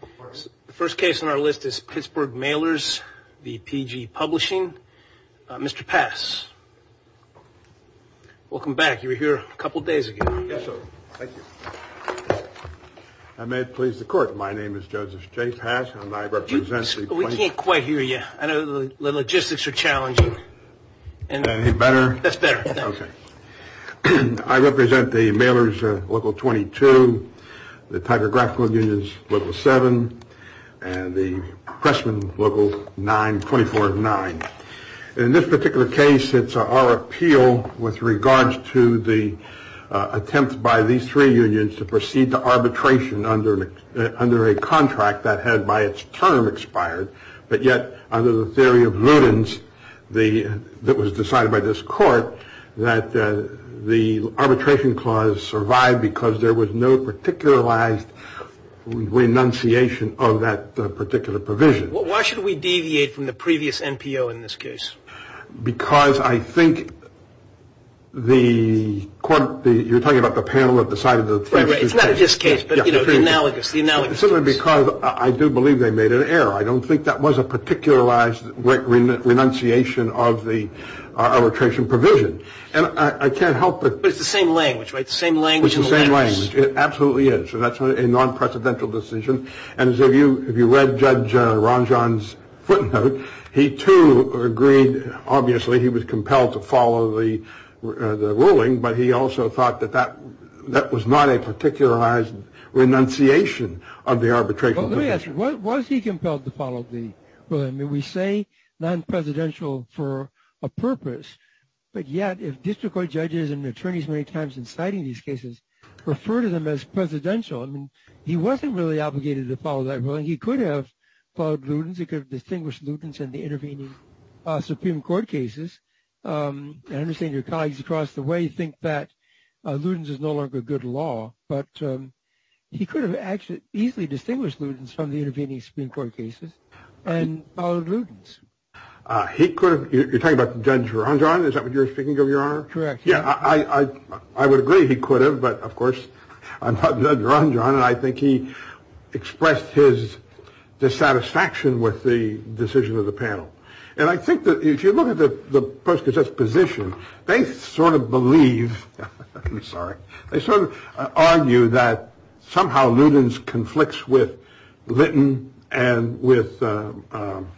The first case on our list is Pittsburgh Mailers v. PG Publishing. Mr. Pass, welcome back. You were here a couple of days ago. Yes, sir. Thank you. I may please the court. My name is Joseph J. Pass, and I represent the- We can't quite hear you. I know the logistics are challenging. Is that any better? That's better. Okay. I represent the Mailers Local 7, and the Pressman Local 9, 24 of 9. In this particular case, it's our appeal with regards to the attempt by these three unions to proceed to arbitration under a contract that had, by its term, expired. But yet, under the theory of Ludens, that was decided by this court, that the arbitration clause survived because there was no particularized renunciation of that particular provision. Why should we deviate from the previous NPO in this case? Because I think the court- You're talking about the panel that decided the first case. Right, right. It's not this case, but the analogous, the analogous case. Simply because I do believe they made an error. I don't think that was a particularized renunciation of the arbitration provision. And I can't help but- But it's the same language, right? The same language in the language. It's the same language. It absolutely is. So that's a non-presidential decision. And if you read Judge Ranjan's footnote, he too agreed, obviously, he was compelled to follow the ruling, but he also thought that that was not a particularized renunciation of the arbitration provision. Well, let me ask you, was he compelled to follow the ruling? I mean, we say non-presidential for a purpose, but yet if district court judges and attorneys many times in citing these cases refer to them as presidential, I mean, he wasn't really obligated to follow that ruling. He could have followed Ludens. He could have distinguished Ludens in the intervening Supreme Court cases. I understand your colleagues across the way think that Ludens is no longer good law, but he could have actually easily distinguished Ludens from the intervening Supreme Court cases and followed Ludens. He could have- You're talking about Judge Ranjan? Is that what you're speaking of, Your Honor? Correct. Yeah, I would agree he could have, but of course I'm not Judge Ranjan and I think he expressed his dissatisfaction with the decision of the panel. And I think that if you look at the Post-Cassette's position, they sort of believe- I'm sorry. They sort of argue that somehow Ludens conflicts with Litton and with Nold,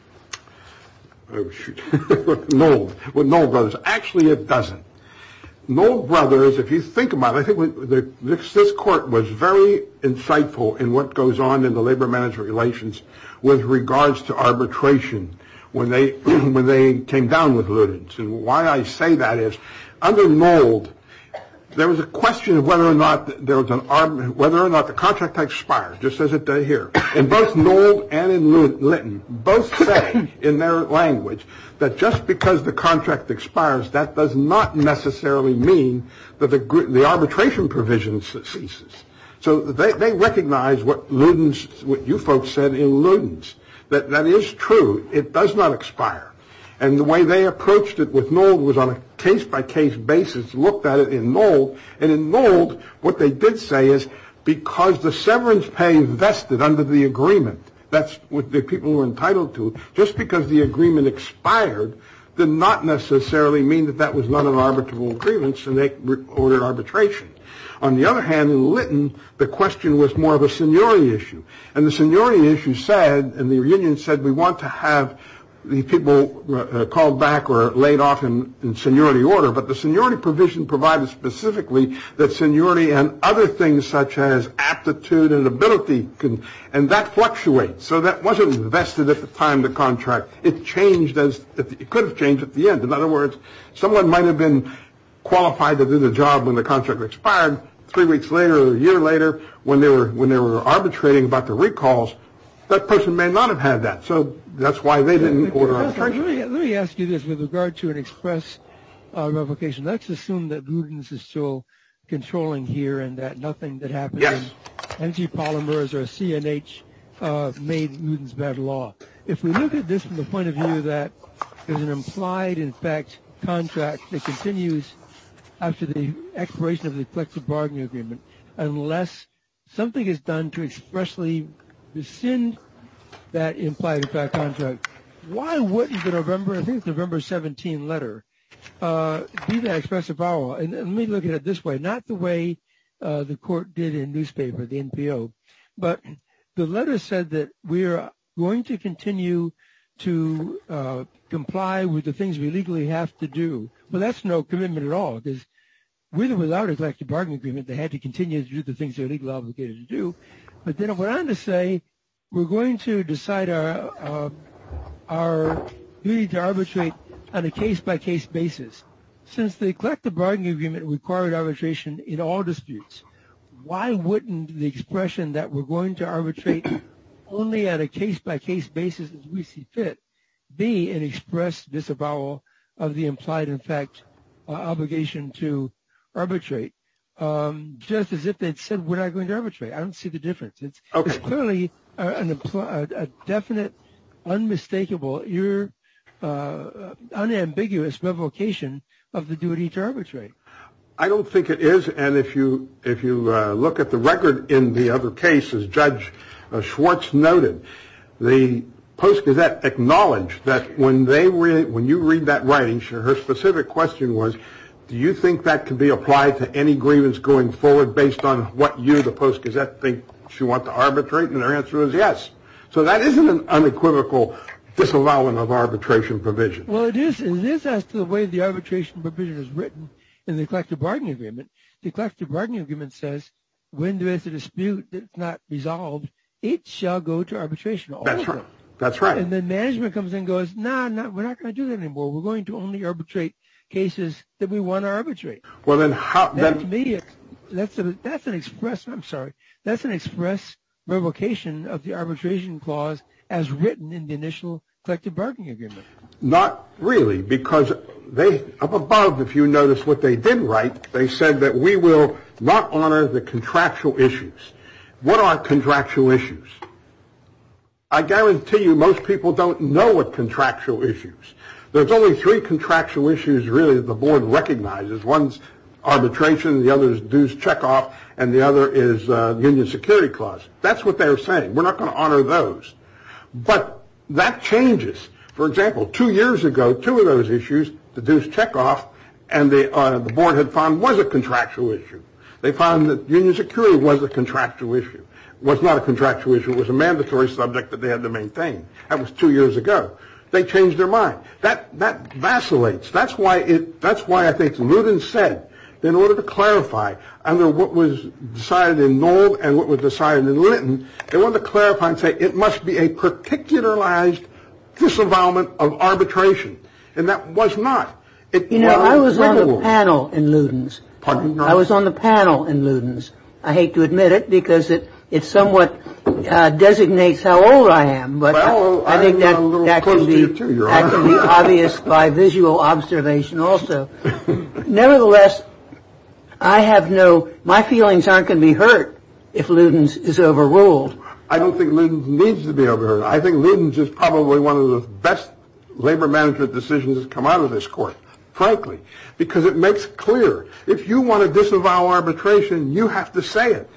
with Nold Brothers. Actually, it doesn't. Nold Brothers, if you think about it, I think this court was very insightful in what goes on in the labor management relations with regards to arbitration when they came down with Ludens. And why I say that is under Nold, there was a question of whether or not there was an- whether or not the contract expires, just as it did here. And both Nold and Litton both say in their language that just because the contract expires, that does not necessarily mean that the arbitration provision ceases. So they recognize what Ludens- what you folks said in Ludens, that that is true. It does not expire. And the way they approached it with Nold was on a case-by-case basis, looked at it in Nold. And in Nold, what they did say is because the severance pay vested under the agreement, that's what the people were entitled to, just because the agreement expired did not necessarily mean that that was not an arbitrable grievance and they ordered arbitration. On the other hand, in Litton, the question was more of a seniority issue. And the seniority issue said- and the reunion said, we want to have the people called back or laid off in seniority order. But the seniority provision provided specifically that seniority and other things such as aptitude and ability can- and that fluctuates. So that wasn't vested at the time the contract- it changed as- it could have changed at the end. In other words, someone might have been qualified to do the job when the contract expired. Three weeks later or a year later, when they were- when they were arbitrating about the recalls, that person may not have had that. So that's why they didn't order arbitration. Let me ask you this with regard to an express revocation. Let's assume that Luden's is still controlling here and that nothing that happened in MG Polymers or CNH made Luden's bad law. If we look at this from the point of view that there's an implied, in fact, contract that continues after the expiration of the collective bargaining agreement, unless something is done to expressly rescind that implied, in fact, contract, why wouldn't the November- I think it's November 17 letter be the expressive power law? And let me look at it this way. Not the way the court did in newspaper, the NPO. But the letter said that we're going to continue to comply with the things we legally have to do. But that's no commitment at all because with or without a collective bargaining agreement, they had to continue to do the But then it went on to say, we're going to decide our duty to arbitrate on a case-by-case basis. Since the collective bargaining agreement required arbitration in all disputes, why wouldn't the expression that we're going to arbitrate only at a case-by-case basis as we see fit be an express disavowal of the implied, in fact, obligation to arbitrate? Just as if they'd said, we're not going to arbitrate. I don't see the difference. It's clearly a definite, unmistakable, unambiguous revocation of the duty to arbitrate. I don't think it is. And if you look at the record in the other case, as Judge Schwartz noted, the Post Gazette acknowledged that when you read that writing, her specific question was, do you think that can be applied to any grievance going forward based on what you, the Post Gazette, think you want to arbitrate? And her answer was yes. So that isn't an unequivocal disavowal of arbitration provision. Well, it is. And this adds to the way the arbitration provision is written in the collective bargaining agreement. The collective bargaining agreement says, when there is a dispute that's not resolved, it shall go to arbitration. That's right. That's right. And then management comes and goes, no, we're not going to do that anymore. We're going to only arbitrate cases that we want to arbitrate. Well, then how... That to me, that's an express, I'm sorry, that's an express revocation of the arbitration clause as written in the initial collective bargaining agreement. Not really, because they, up above, if you notice what they did write, they said that we will not honor the contractual issues. What are contractual issues? I guarantee you most people don't know what contractual issues. There's only three contractual issues, really, the board recognizes. One's arbitration, the other is dues checkoff, and the other is union security clause. That's what they're saying. We're not going to honor those. But that changes. For example, two years ago, two of those issues, the dues checkoff, and the board had found was a contractual issue. They found that union security was a contractual thing. That was two years ago. They changed their mind. That vacillates. That's why I think Luden said, in order to clarify, under what was decided in Noll and what was decided in Linton, they wanted to clarify and say it must be a particularized disavowalment of arbitration. And that was not. You know, I was on the panel in Luden's. I was on the panel in Luden's. I hate to admit it because it somewhat designates how old I am, but I think that can be obvious by visual observation also. Nevertheless, I have no, my feelings aren't going to be hurt if Luden's is overruled. I don't think Luden's needs to be overruled. I think Luden's is probably one of the best labor management decisions to come out of this court, frankly, because it makes clear if you want to disavow arbitration, you have to say it.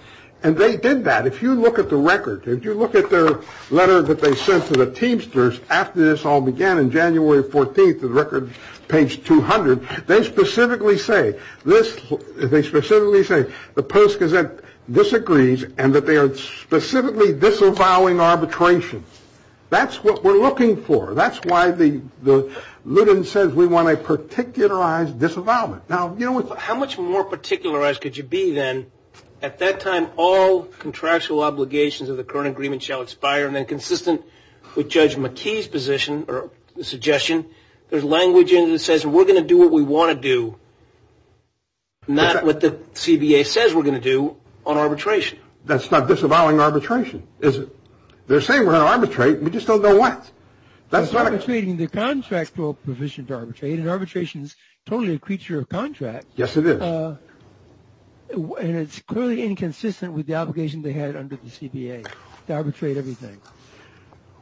And they did that. If you look at the record, if you look at their letter that they sent to the Teamsters after this all began in January 14th, the record page 200, they specifically say this, they specifically say the Post-Gazette disagrees and that they are specifically disavowing arbitration. That's what we're looking for. That's why Luden says we want a particularized disavowalment. Now, how much more particularized could you be then? At that time, all contractual obligations of the current agreement shall expire and then consistent with Judge McKee's position or suggestion, there's language in it that says we're going to do what we want to do, not what the CBA says we're going to do on arbitration. That's not disavowing arbitration, is it? They're saying we're going to arbitrate and we just don't know what. That's arbitrating the contractual provision to arbitrate and arbitration's totally a creature of contract. Yes, it is. And it's clearly inconsistent with the obligation they had under the CBA to arbitrate everything.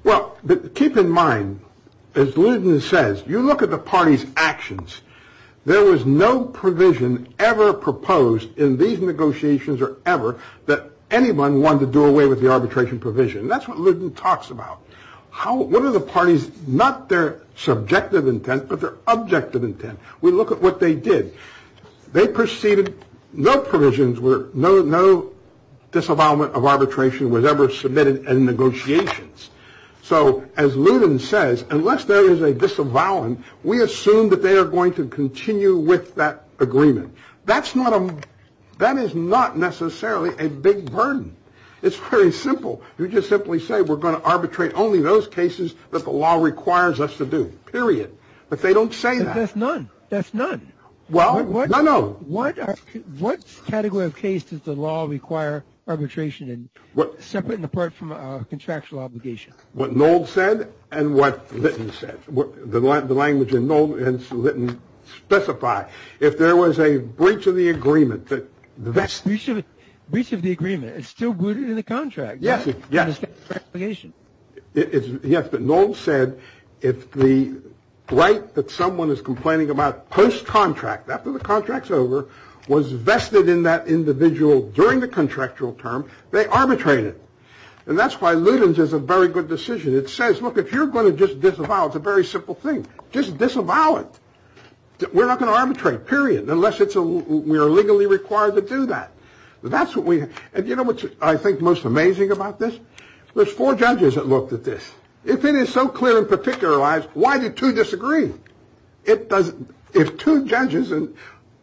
Well, keep in mind, as Luden says, you look at the party's actions, there was no provision ever proposed in these negotiations or ever that anyone wanted to do away with the arbitration provision. That's what Luden talks about. What are the parties, not their subjective intent, but their objective intent. We look at what they did. They proceeded, no provisions, no disavowal of arbitration was ever submitted in negotiations. So as Luden says, unless there is a disavowal, we assume that they are going to continue with that agreement. That's not a, that is not necessarily a big burden. It's very simple. You just simply say we're going to arbitrate only those cases that the law requires us to do, period. But they don't say that. That's none. That's none. Well, no, no. What category of case does the law require arbitration in, separate and apart from contractual obligation? What Noll said and what Luden said. The language in Noll and Luden specify. If there was a breach of the agreement, that's- Breach of the agreement. It's still rooted in the contract. Yes, yes. It's an obligation. Yes, but Noll said if the right that someone is complaining about post-contract, after the contract's over, was vested in that individual during the contractual term, they arbitrate it. And that's why Luden's is a very good decision. It says, look, if you're going to just disavow, it's a very simple thing. Just disavow it. We're not going to arbitrate, period, unless we are legally required to do that. And you know what I think most amazing about this? There's four judges that looked at this. If it is so clear and particularized, why do two disagree? If two judges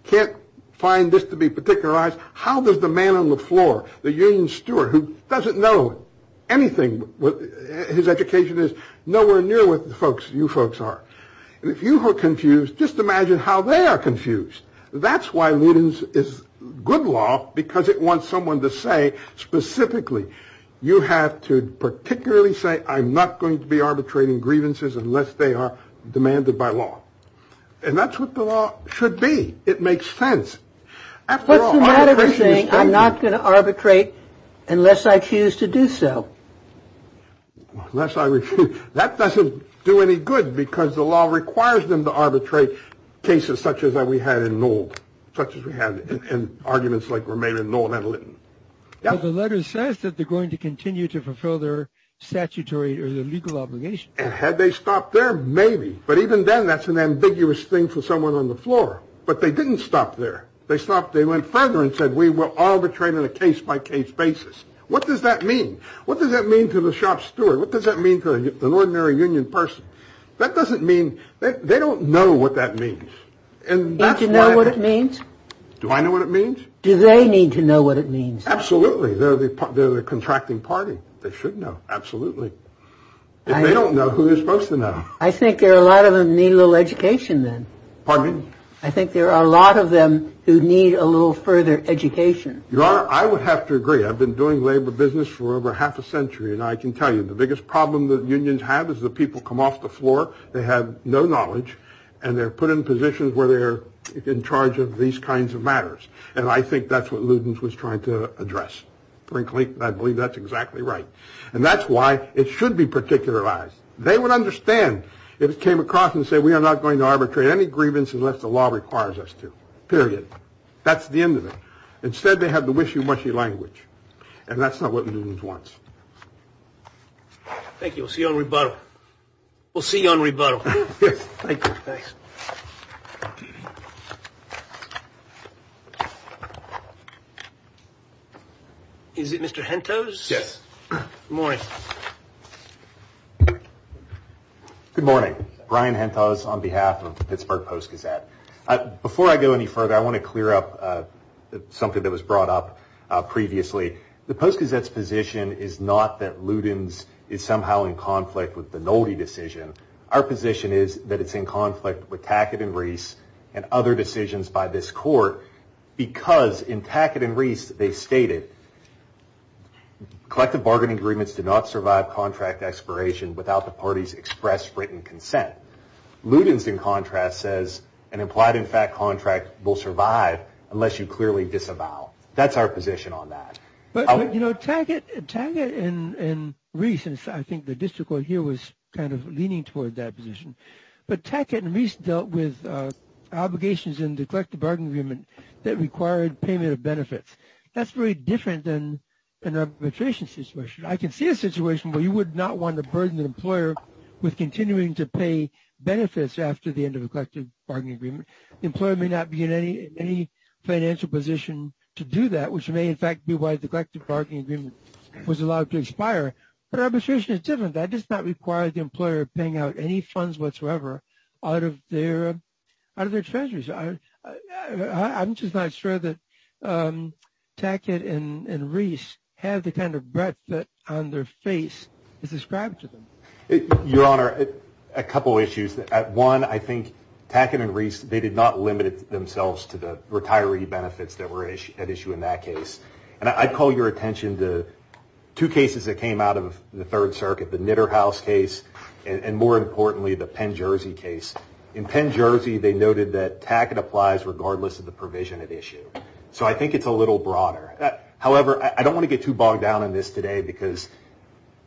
can't find this to be particularized, how does the man on the floor, the union steward, who doesn't know anything, his education is nowhere near what you folks are. And if you were confused, just imagine how they are confused. That's why Luden's is good law, because it wants someone to say specifically, you have to particularly say I'm not going to be arbitrating grievances unless they are demanded by law. And that's what the law should be. It makes sense. What's the matter with saying I'm not going to arbitrate unless I choose to do so? Unless I refuse. That doesn't do any good because the law requires them to arbitrate cases such as we had in old, such as we had in arguments like we're made in Northern Lytton. The letter says that they're going to continue to fulfill their statutory or legal obligation. Had they stopped there, maybe. But even then, that's an ambiguous thing for someone on the floor. But they didn't stop there. They stopped. They went further and said we will arbitrate in a case by case basis. What does that mean? What does that mean to the shop steward? What does that mean to an ordinary union person? That doesn't mean they don't know what that means. And that's not what it means. Do I know what it means? Do they need to know what it means? Absolutely. They're the contracting party. They should know. Absolutely. They don't know who they're supposed to know. I think there are a lot of them need a little education then. Pardon me? I think there are a lot of them who need a little further education. Your Honor, I would have to agree. I've been doing labor business for over half a century. And I can tell you the biggest problem that unions have is the people come off the floor. They have no knowledge and they're put in positions where they're in charge of these kinds of matters. And I think that's what Ludens was trying to address. Frankly, I believe that's exactly right. And that's why it should be particularized. They would understand if it came across and say we are not going to arbitrate any grievance unless the law requires us to. Period. That's the end of it. Instead, they have the wishy-washy language. And that's not what Ludens wants. Thank you. We'll see you on rebuttal. We'll see you on rebuttal. Is it Mr. Hentos? Yes. Good morning. Good morning. Brian Hentos on behalf of the Pittsburgh Post-Gazette. Before I go any further, I want to clear up something that was brought up previously. The Post-Gazette's position is not that Ludens is somehow in conflict with the Nolde decision. Our position is that it's in conflict with Tackett and Reese and other decisions by this court. Because in Tackett and Reese, they stated collective bargaining agreements do not survive contract expiration without the party's express written consent. Ludens, in contrast, says an implied in fact contract will survive unless you clearly disavow. That's our position on that. But, you know, Tackett and Reese, and I think the district court here was kind of leaning toward that position. But Tackett and Reese dealt with obligations in the collective bargaining agreement that required payment of benefits. That's very different than an arbitration situation. I can see a situation where you would not want to burden the employer with continuing to pay benefits after the end of a collective bargaining agreement. The employer may not be in any financial position to do that, which may in fact be why the collective bargaining agreement was allowed to expire. But arbitration is different. That does not require the employer paying out any funds whatsoever out of their treasuries. I'm just not sure that Tackett and Reese have the kind of breath that on their face is described to them. Your Honor, a couple of issues. One, I think Tackett and Reese, they did not limit themselves to the retiree benefits that were at issue in that case. And I'd call your attention to two cases that came out of the Third Circuit, the Knitterhaus case, and more importantly, the Penn-Jersey case. In Penn-Jersey, they noted that Tackett applies regardless of the provision at issue. So I think it's a little broader. However, I don't want to get too bogged down in this today because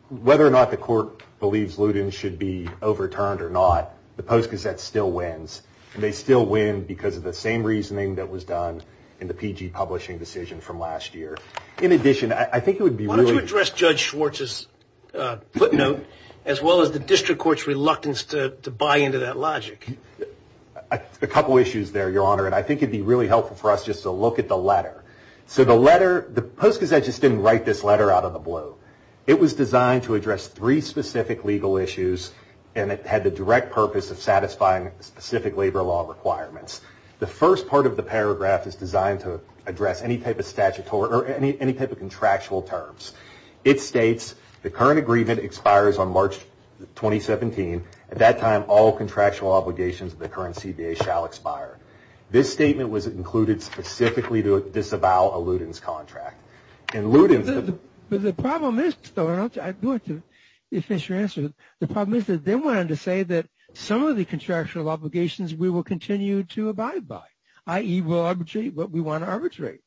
whether or not the court believes Ludin should be overturned or not, the Post-Gazette still wins. And they still win because of the same reasoning that was done in the PG publishing decision from last year. Why don't you address Judge Schwartz's footnote as well as the district court's reluctance to buy into that logic? A couple of issues there, Your Honor, and I think it would be really helpful for us just to look at the letter. So the letter, the Post-Gazette just didn't write this letter out of the blue. It was designed to address three specific legal issues and it had the direct purpose of satisfying specific labor law requirements. The first part of the paragraph is designed to address any type of contractual terms. It states, the current agreement expires on March 2017. At that time, all contractual obligations of the current CBA shall expire. This statement was included specifically to disavow a Ludin's contract. The problem is, though, and I'll do it to finish your answer. The problem is that they wanted to say that some of the contractual obligations we will continue to abide by, i.e., we'll arbitrate what we want to arbitrate.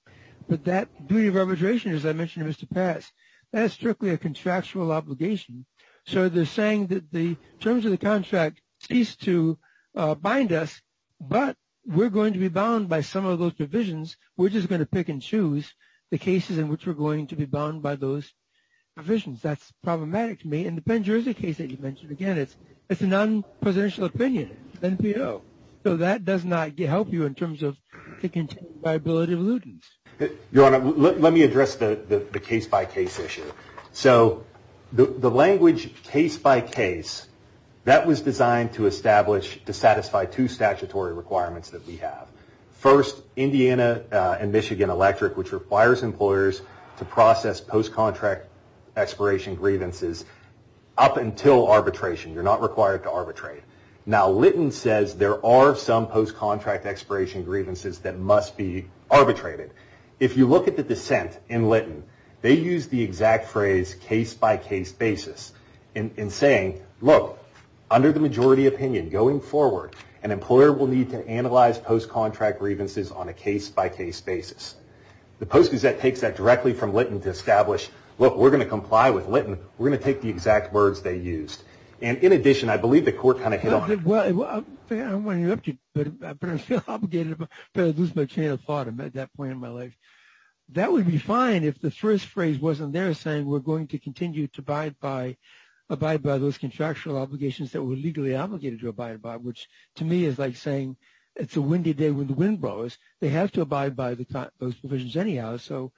But that duty of arbitration, as I mentioned to Mr. Parris, that is strictly a contractual obligation. So they're saying that the terms of the contract cease to bind us, but we're going to be bound by some of those divisions. We're just going to pick and choose the cases in which we're going to be bound by those divisions. That's problematic to me. And the Penn Jersey case that you mentioned, again, it's a non-presidential opinion, NPO. So that does not help you in terms of the continued viability of Ludin's. Your Honor, let me address the case-by-case issue. So the language case-by-case, that was designed to establish, to satisfy two statutory requirements that we have. First, Indiana and Michigan Electric, which requires employers to process post-contract expiration grievances up until arbitration. You're not required to arbitrate. Now, Litton says there are some post-contract expiration grievances that must be arbitrated. If you look at the dissent in Litton, they use the exact phrase case-by-case basis in saying, look, under the majority opinion going forward, an employer will need to analyze post-contract grievances on a case-by-case basis. The Post-Gazette takes that directly from Litton to establish, look, we're going to comply with Litton. We're going to take the exact words they used. And in addition, I believe the court kind of hit on it. Well, I don't want to interrupt you, but I feel obligated to lose my train of thought at that point in my life. That would be fine if the first phrase wasn't there saying we're going to continue to abide by those contractual obligations that we're legally obligated to abide by, which to me is like saying it's a windy day when the wind blows. They have to abide by those provisions anyhow, so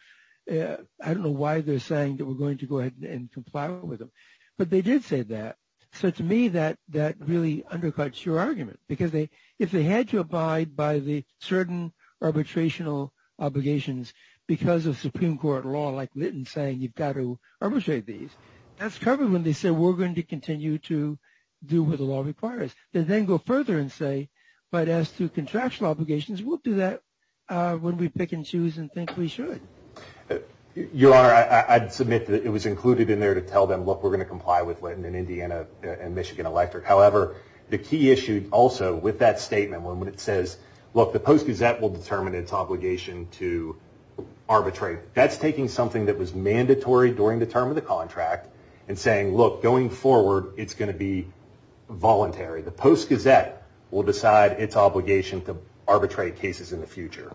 I don't know why they're saying that we're going to go ahead and comply with them. But they did say that. So to me, that really undercuts your argument, because if they had to abide by the certain arbitrational obligations because of Supreme Court law, like Litton saying you've got to arbitrate these, that's covered when they say we're going to continue to do what the law requires. They then go further and say, but as to contractual obligations, we'll do that when we pick and choose and think we should. Your Honor, I'd submit that it was included in there to tell them, look, we're going to comply with Litton and Indiana and Michigan Electric. However, the key issue also with that statement when it says, look, the Post-Gazette will determine its obligation to arbitrate, that's taking something that was mandatory during the term of the contract and saying, look, going forward, it's going to be voluntary. The Post-Gazette will decide its obligation to arbitrate cases in the future.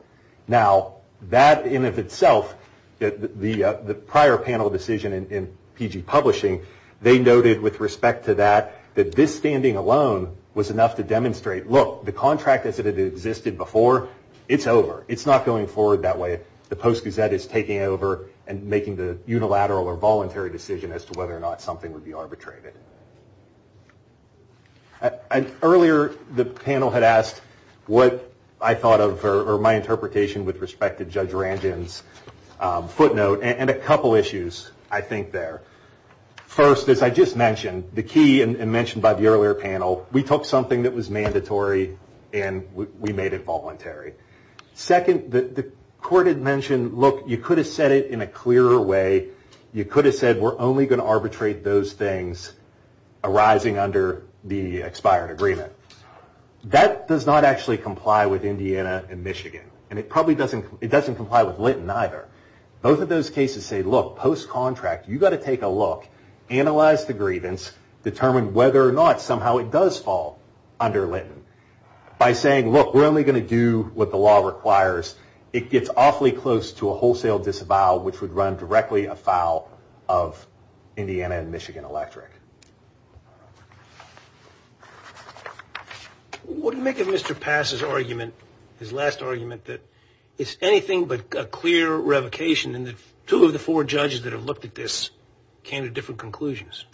Now, that in of itself, the prior panel decision in PG Publishing, they noted with respect to that, that this standing alone was enough to demonstrate, look, the contract as it had existed before, it's over. It's not going forward that way. The Post-Gazette is taking over and making the unilateral or voluntary decision as to whether or not something would be arbitrated. Earlier, the panel had asked what I thought of or my interpretation with respect to Judge Ranjan's footnote and a couple issues I think there. First, as I just mentioned, the key and mentioned by the earlier panel, we took something that was mandatory and we made it voluntary. Second, the court had mentioned, look, you could have said it in a clearer way. You could have said we're only going to arbitrate those things arising under the expired agreement. That does not actually comply with Indiana and Michigan, and it probably doesn't comply with Lytton either. Both of those cases say, look, post-contract, you've got to take a look, analyze the grievance, determine whether or not somehow it does fall under Lytton. By saying, look, we're only going to do what the law requires, it gets awfully close to a wholesale disavowal, which would run directly afoul of Indiana and Michigan Electric. What do you make of Mr. Pass's argument, his last argument, that it's anything but a clear revocation and that two of the four judges that have looked at this came to different conclusions?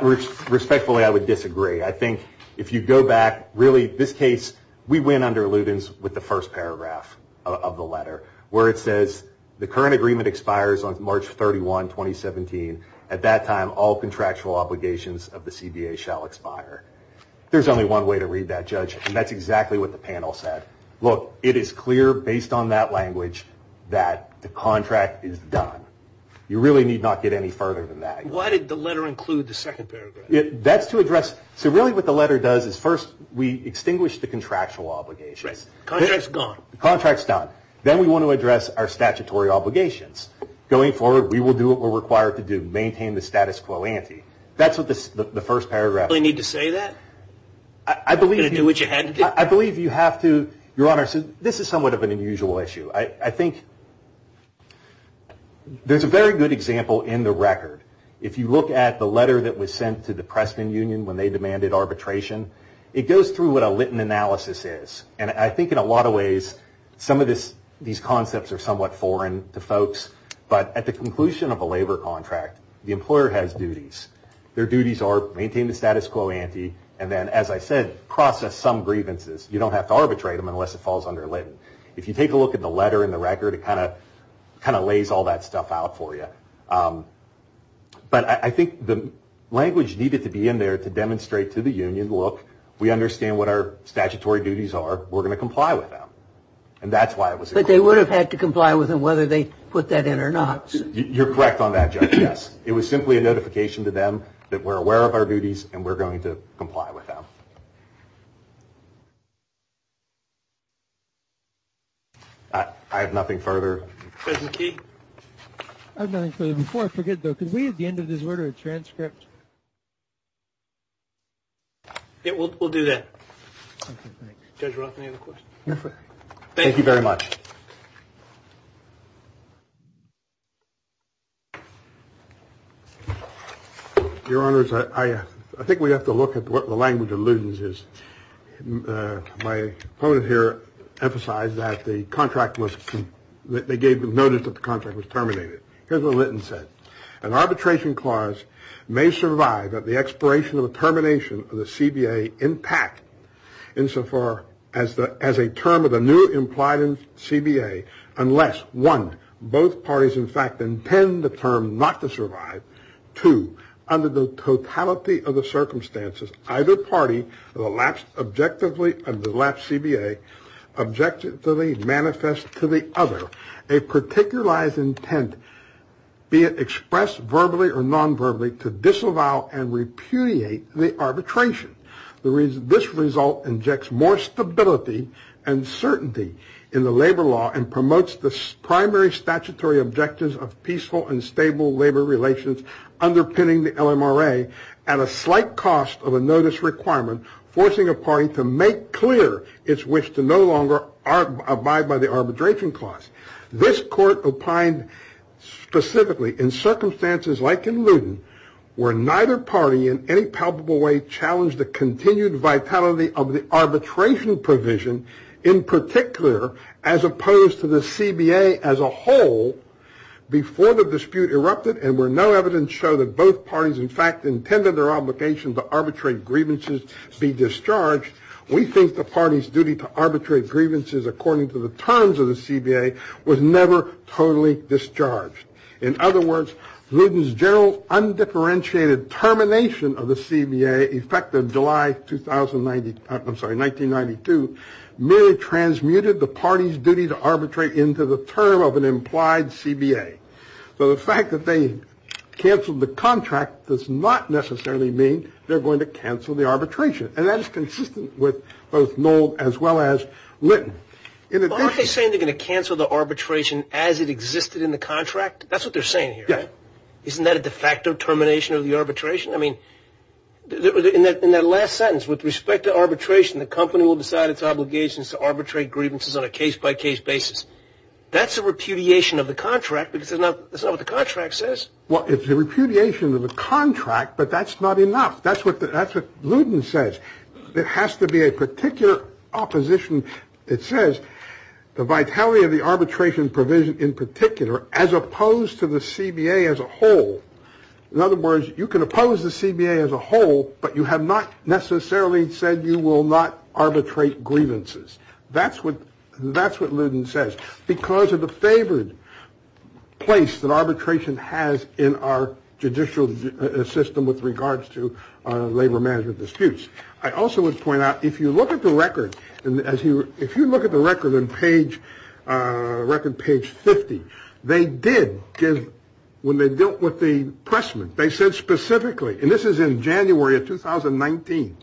Respectfully, I would disagree. I think if you go back, really, this case, we win under Luden's with the first paragraph of the letter where it says the current agreement expires on March 31, 2017. At that time, all contractual obligations of the CBA shall expire. There's only one way to read that, Judge, and that's exactly what the panel said. Look, it is clear based on that language that the contract is done. You really need not get any further than that. Why did the letter include the second paragraph? That's to address, so really what the letter does is first we extinguish the contractual obligations. Contract's gone. Contract's done. Then we want to address our statutory obligations. Going forward, we will do what we're required to do, maintain the status quo ante. That's what the first paragraph says. Do you really need to say that? I believe you have to, Your Honor. This is somewhat of an unusual issue. I think there's a very good example in the record. If you look at the letter that was sent to the Preston Union when they demanded arbitration, it goes through what a Litten analysis is. I think in a lot of ways some of these concepts are somewhat foreign to folks, but at the conclusion of a labor contract, the employer has duties. Their duties are maintain the status quo ante and then, as I said, process some grievances. You don't have to arbitrate them unless it falls under Litten. If you take a look at the letter and the record, it kind of lays all that stuff out for you. But I think the language needed to be in there to demonstrate to the union, we understand what our statutory duties are, we're going to comply with them. And that's why it was included. But they would have had to comply with them whether they put that in or not. You're correct on that, Judge, yes. It was simply a notification to them that we're aware of our duties and we're going to comply with them. I have nothing further. I have nothing further. Before I forget, though, could we at the end of this order a transcript? We'll do that. Judge Roth, any other questions? Thank you very much. Your Honor, I think we have to look at what the language allusions is. My opponent here emphasized that the contract was that they gave the notice that the contract was terminated. Here's what Linton said. An arbitration clause may survive at the expiration of a termination of the CBA impact insofar as a term of the new implied CBA, unless one, both parties in fact intend the term not to survive. Two, under the totality of the circumstances, either party will objectively and the last CBA objectively manifest to the other a particularized intent, be it expressed verbally or non-verbally, to disavow and repudiate the arbitration. This result injects more stability and certainty in the labor law and promotes the primary statutory objectives of peaceful and stable labor relations underpinning the LMRA at a slight cost of a notice requirement forcing a party to make clear its wish to no longer abide by the arbitration clause. This court opined specifically in circumstances like in Luton where neither party in any palpable way challenged the continued vitality of the arbitration provision, in particular as opposed to the CBA as a whole, before the dispute erupted and where no evidence showed that both parties in fact intended their obligation to arbitrate grievances be discharged, we think the party's duty to arbitrate grievances according to the terms of the CBA was never totally discharged. In other words, Luton's general undifferentiated termination of the CBA effective July 1990, I'm sorry, 1992, merely transmuted the party's duty to arbitrate into the term of an implied CBA. So the fact that they canceled the contract does not necessarily mean they're going to cancel the arbitration. And that is consistent with both Noll as well as Luton. Aren't they saying they're going to cancel the arbitration as it existed in the contract? That's what they're saying here. Yeah. Isn't that a de facto termination of the arbitration? I mean, in that last sentence, with respect to arbitration, the company will decide its obligations to arbitrate grievances on a case-by-case basis. That's a repudiation of the contract because that's not what the contract says. Well, it's a repudiation of the contract, but that's not enough. That's what Luton says. It has to be a particular opposition that says the vitality of the arbitration provision in particular as opposed to the CBA as a whole. In other words, you can oppose the CBA as a whole, but you have not necessarily said you will not arbitrate grievances. That's what Luton says because of the favored place that arbitration has in our judicial system with regards to labor management disputes. I also would point out, if you look at the record, and if you look at the record on page 50, they did give, when they dealt with the pressman, they said specifically, and this is in January of 2019,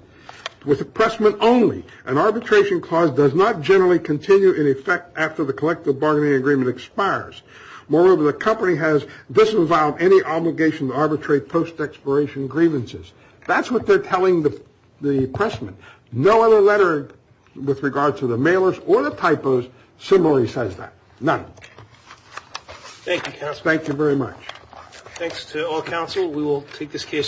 with the pressman only, an arbitration clause does not generally continue in effect after the collective bargaining agreement expires. Moreover, the company has disavowed any obligation to arbitrate post-expiration grievances. That's what they're telling the pressman. No other letter with regard to the mailers or the typos similarly says that. None. Thank you, counsel. Thank you very much. Thanks to all counsel. We will take this case.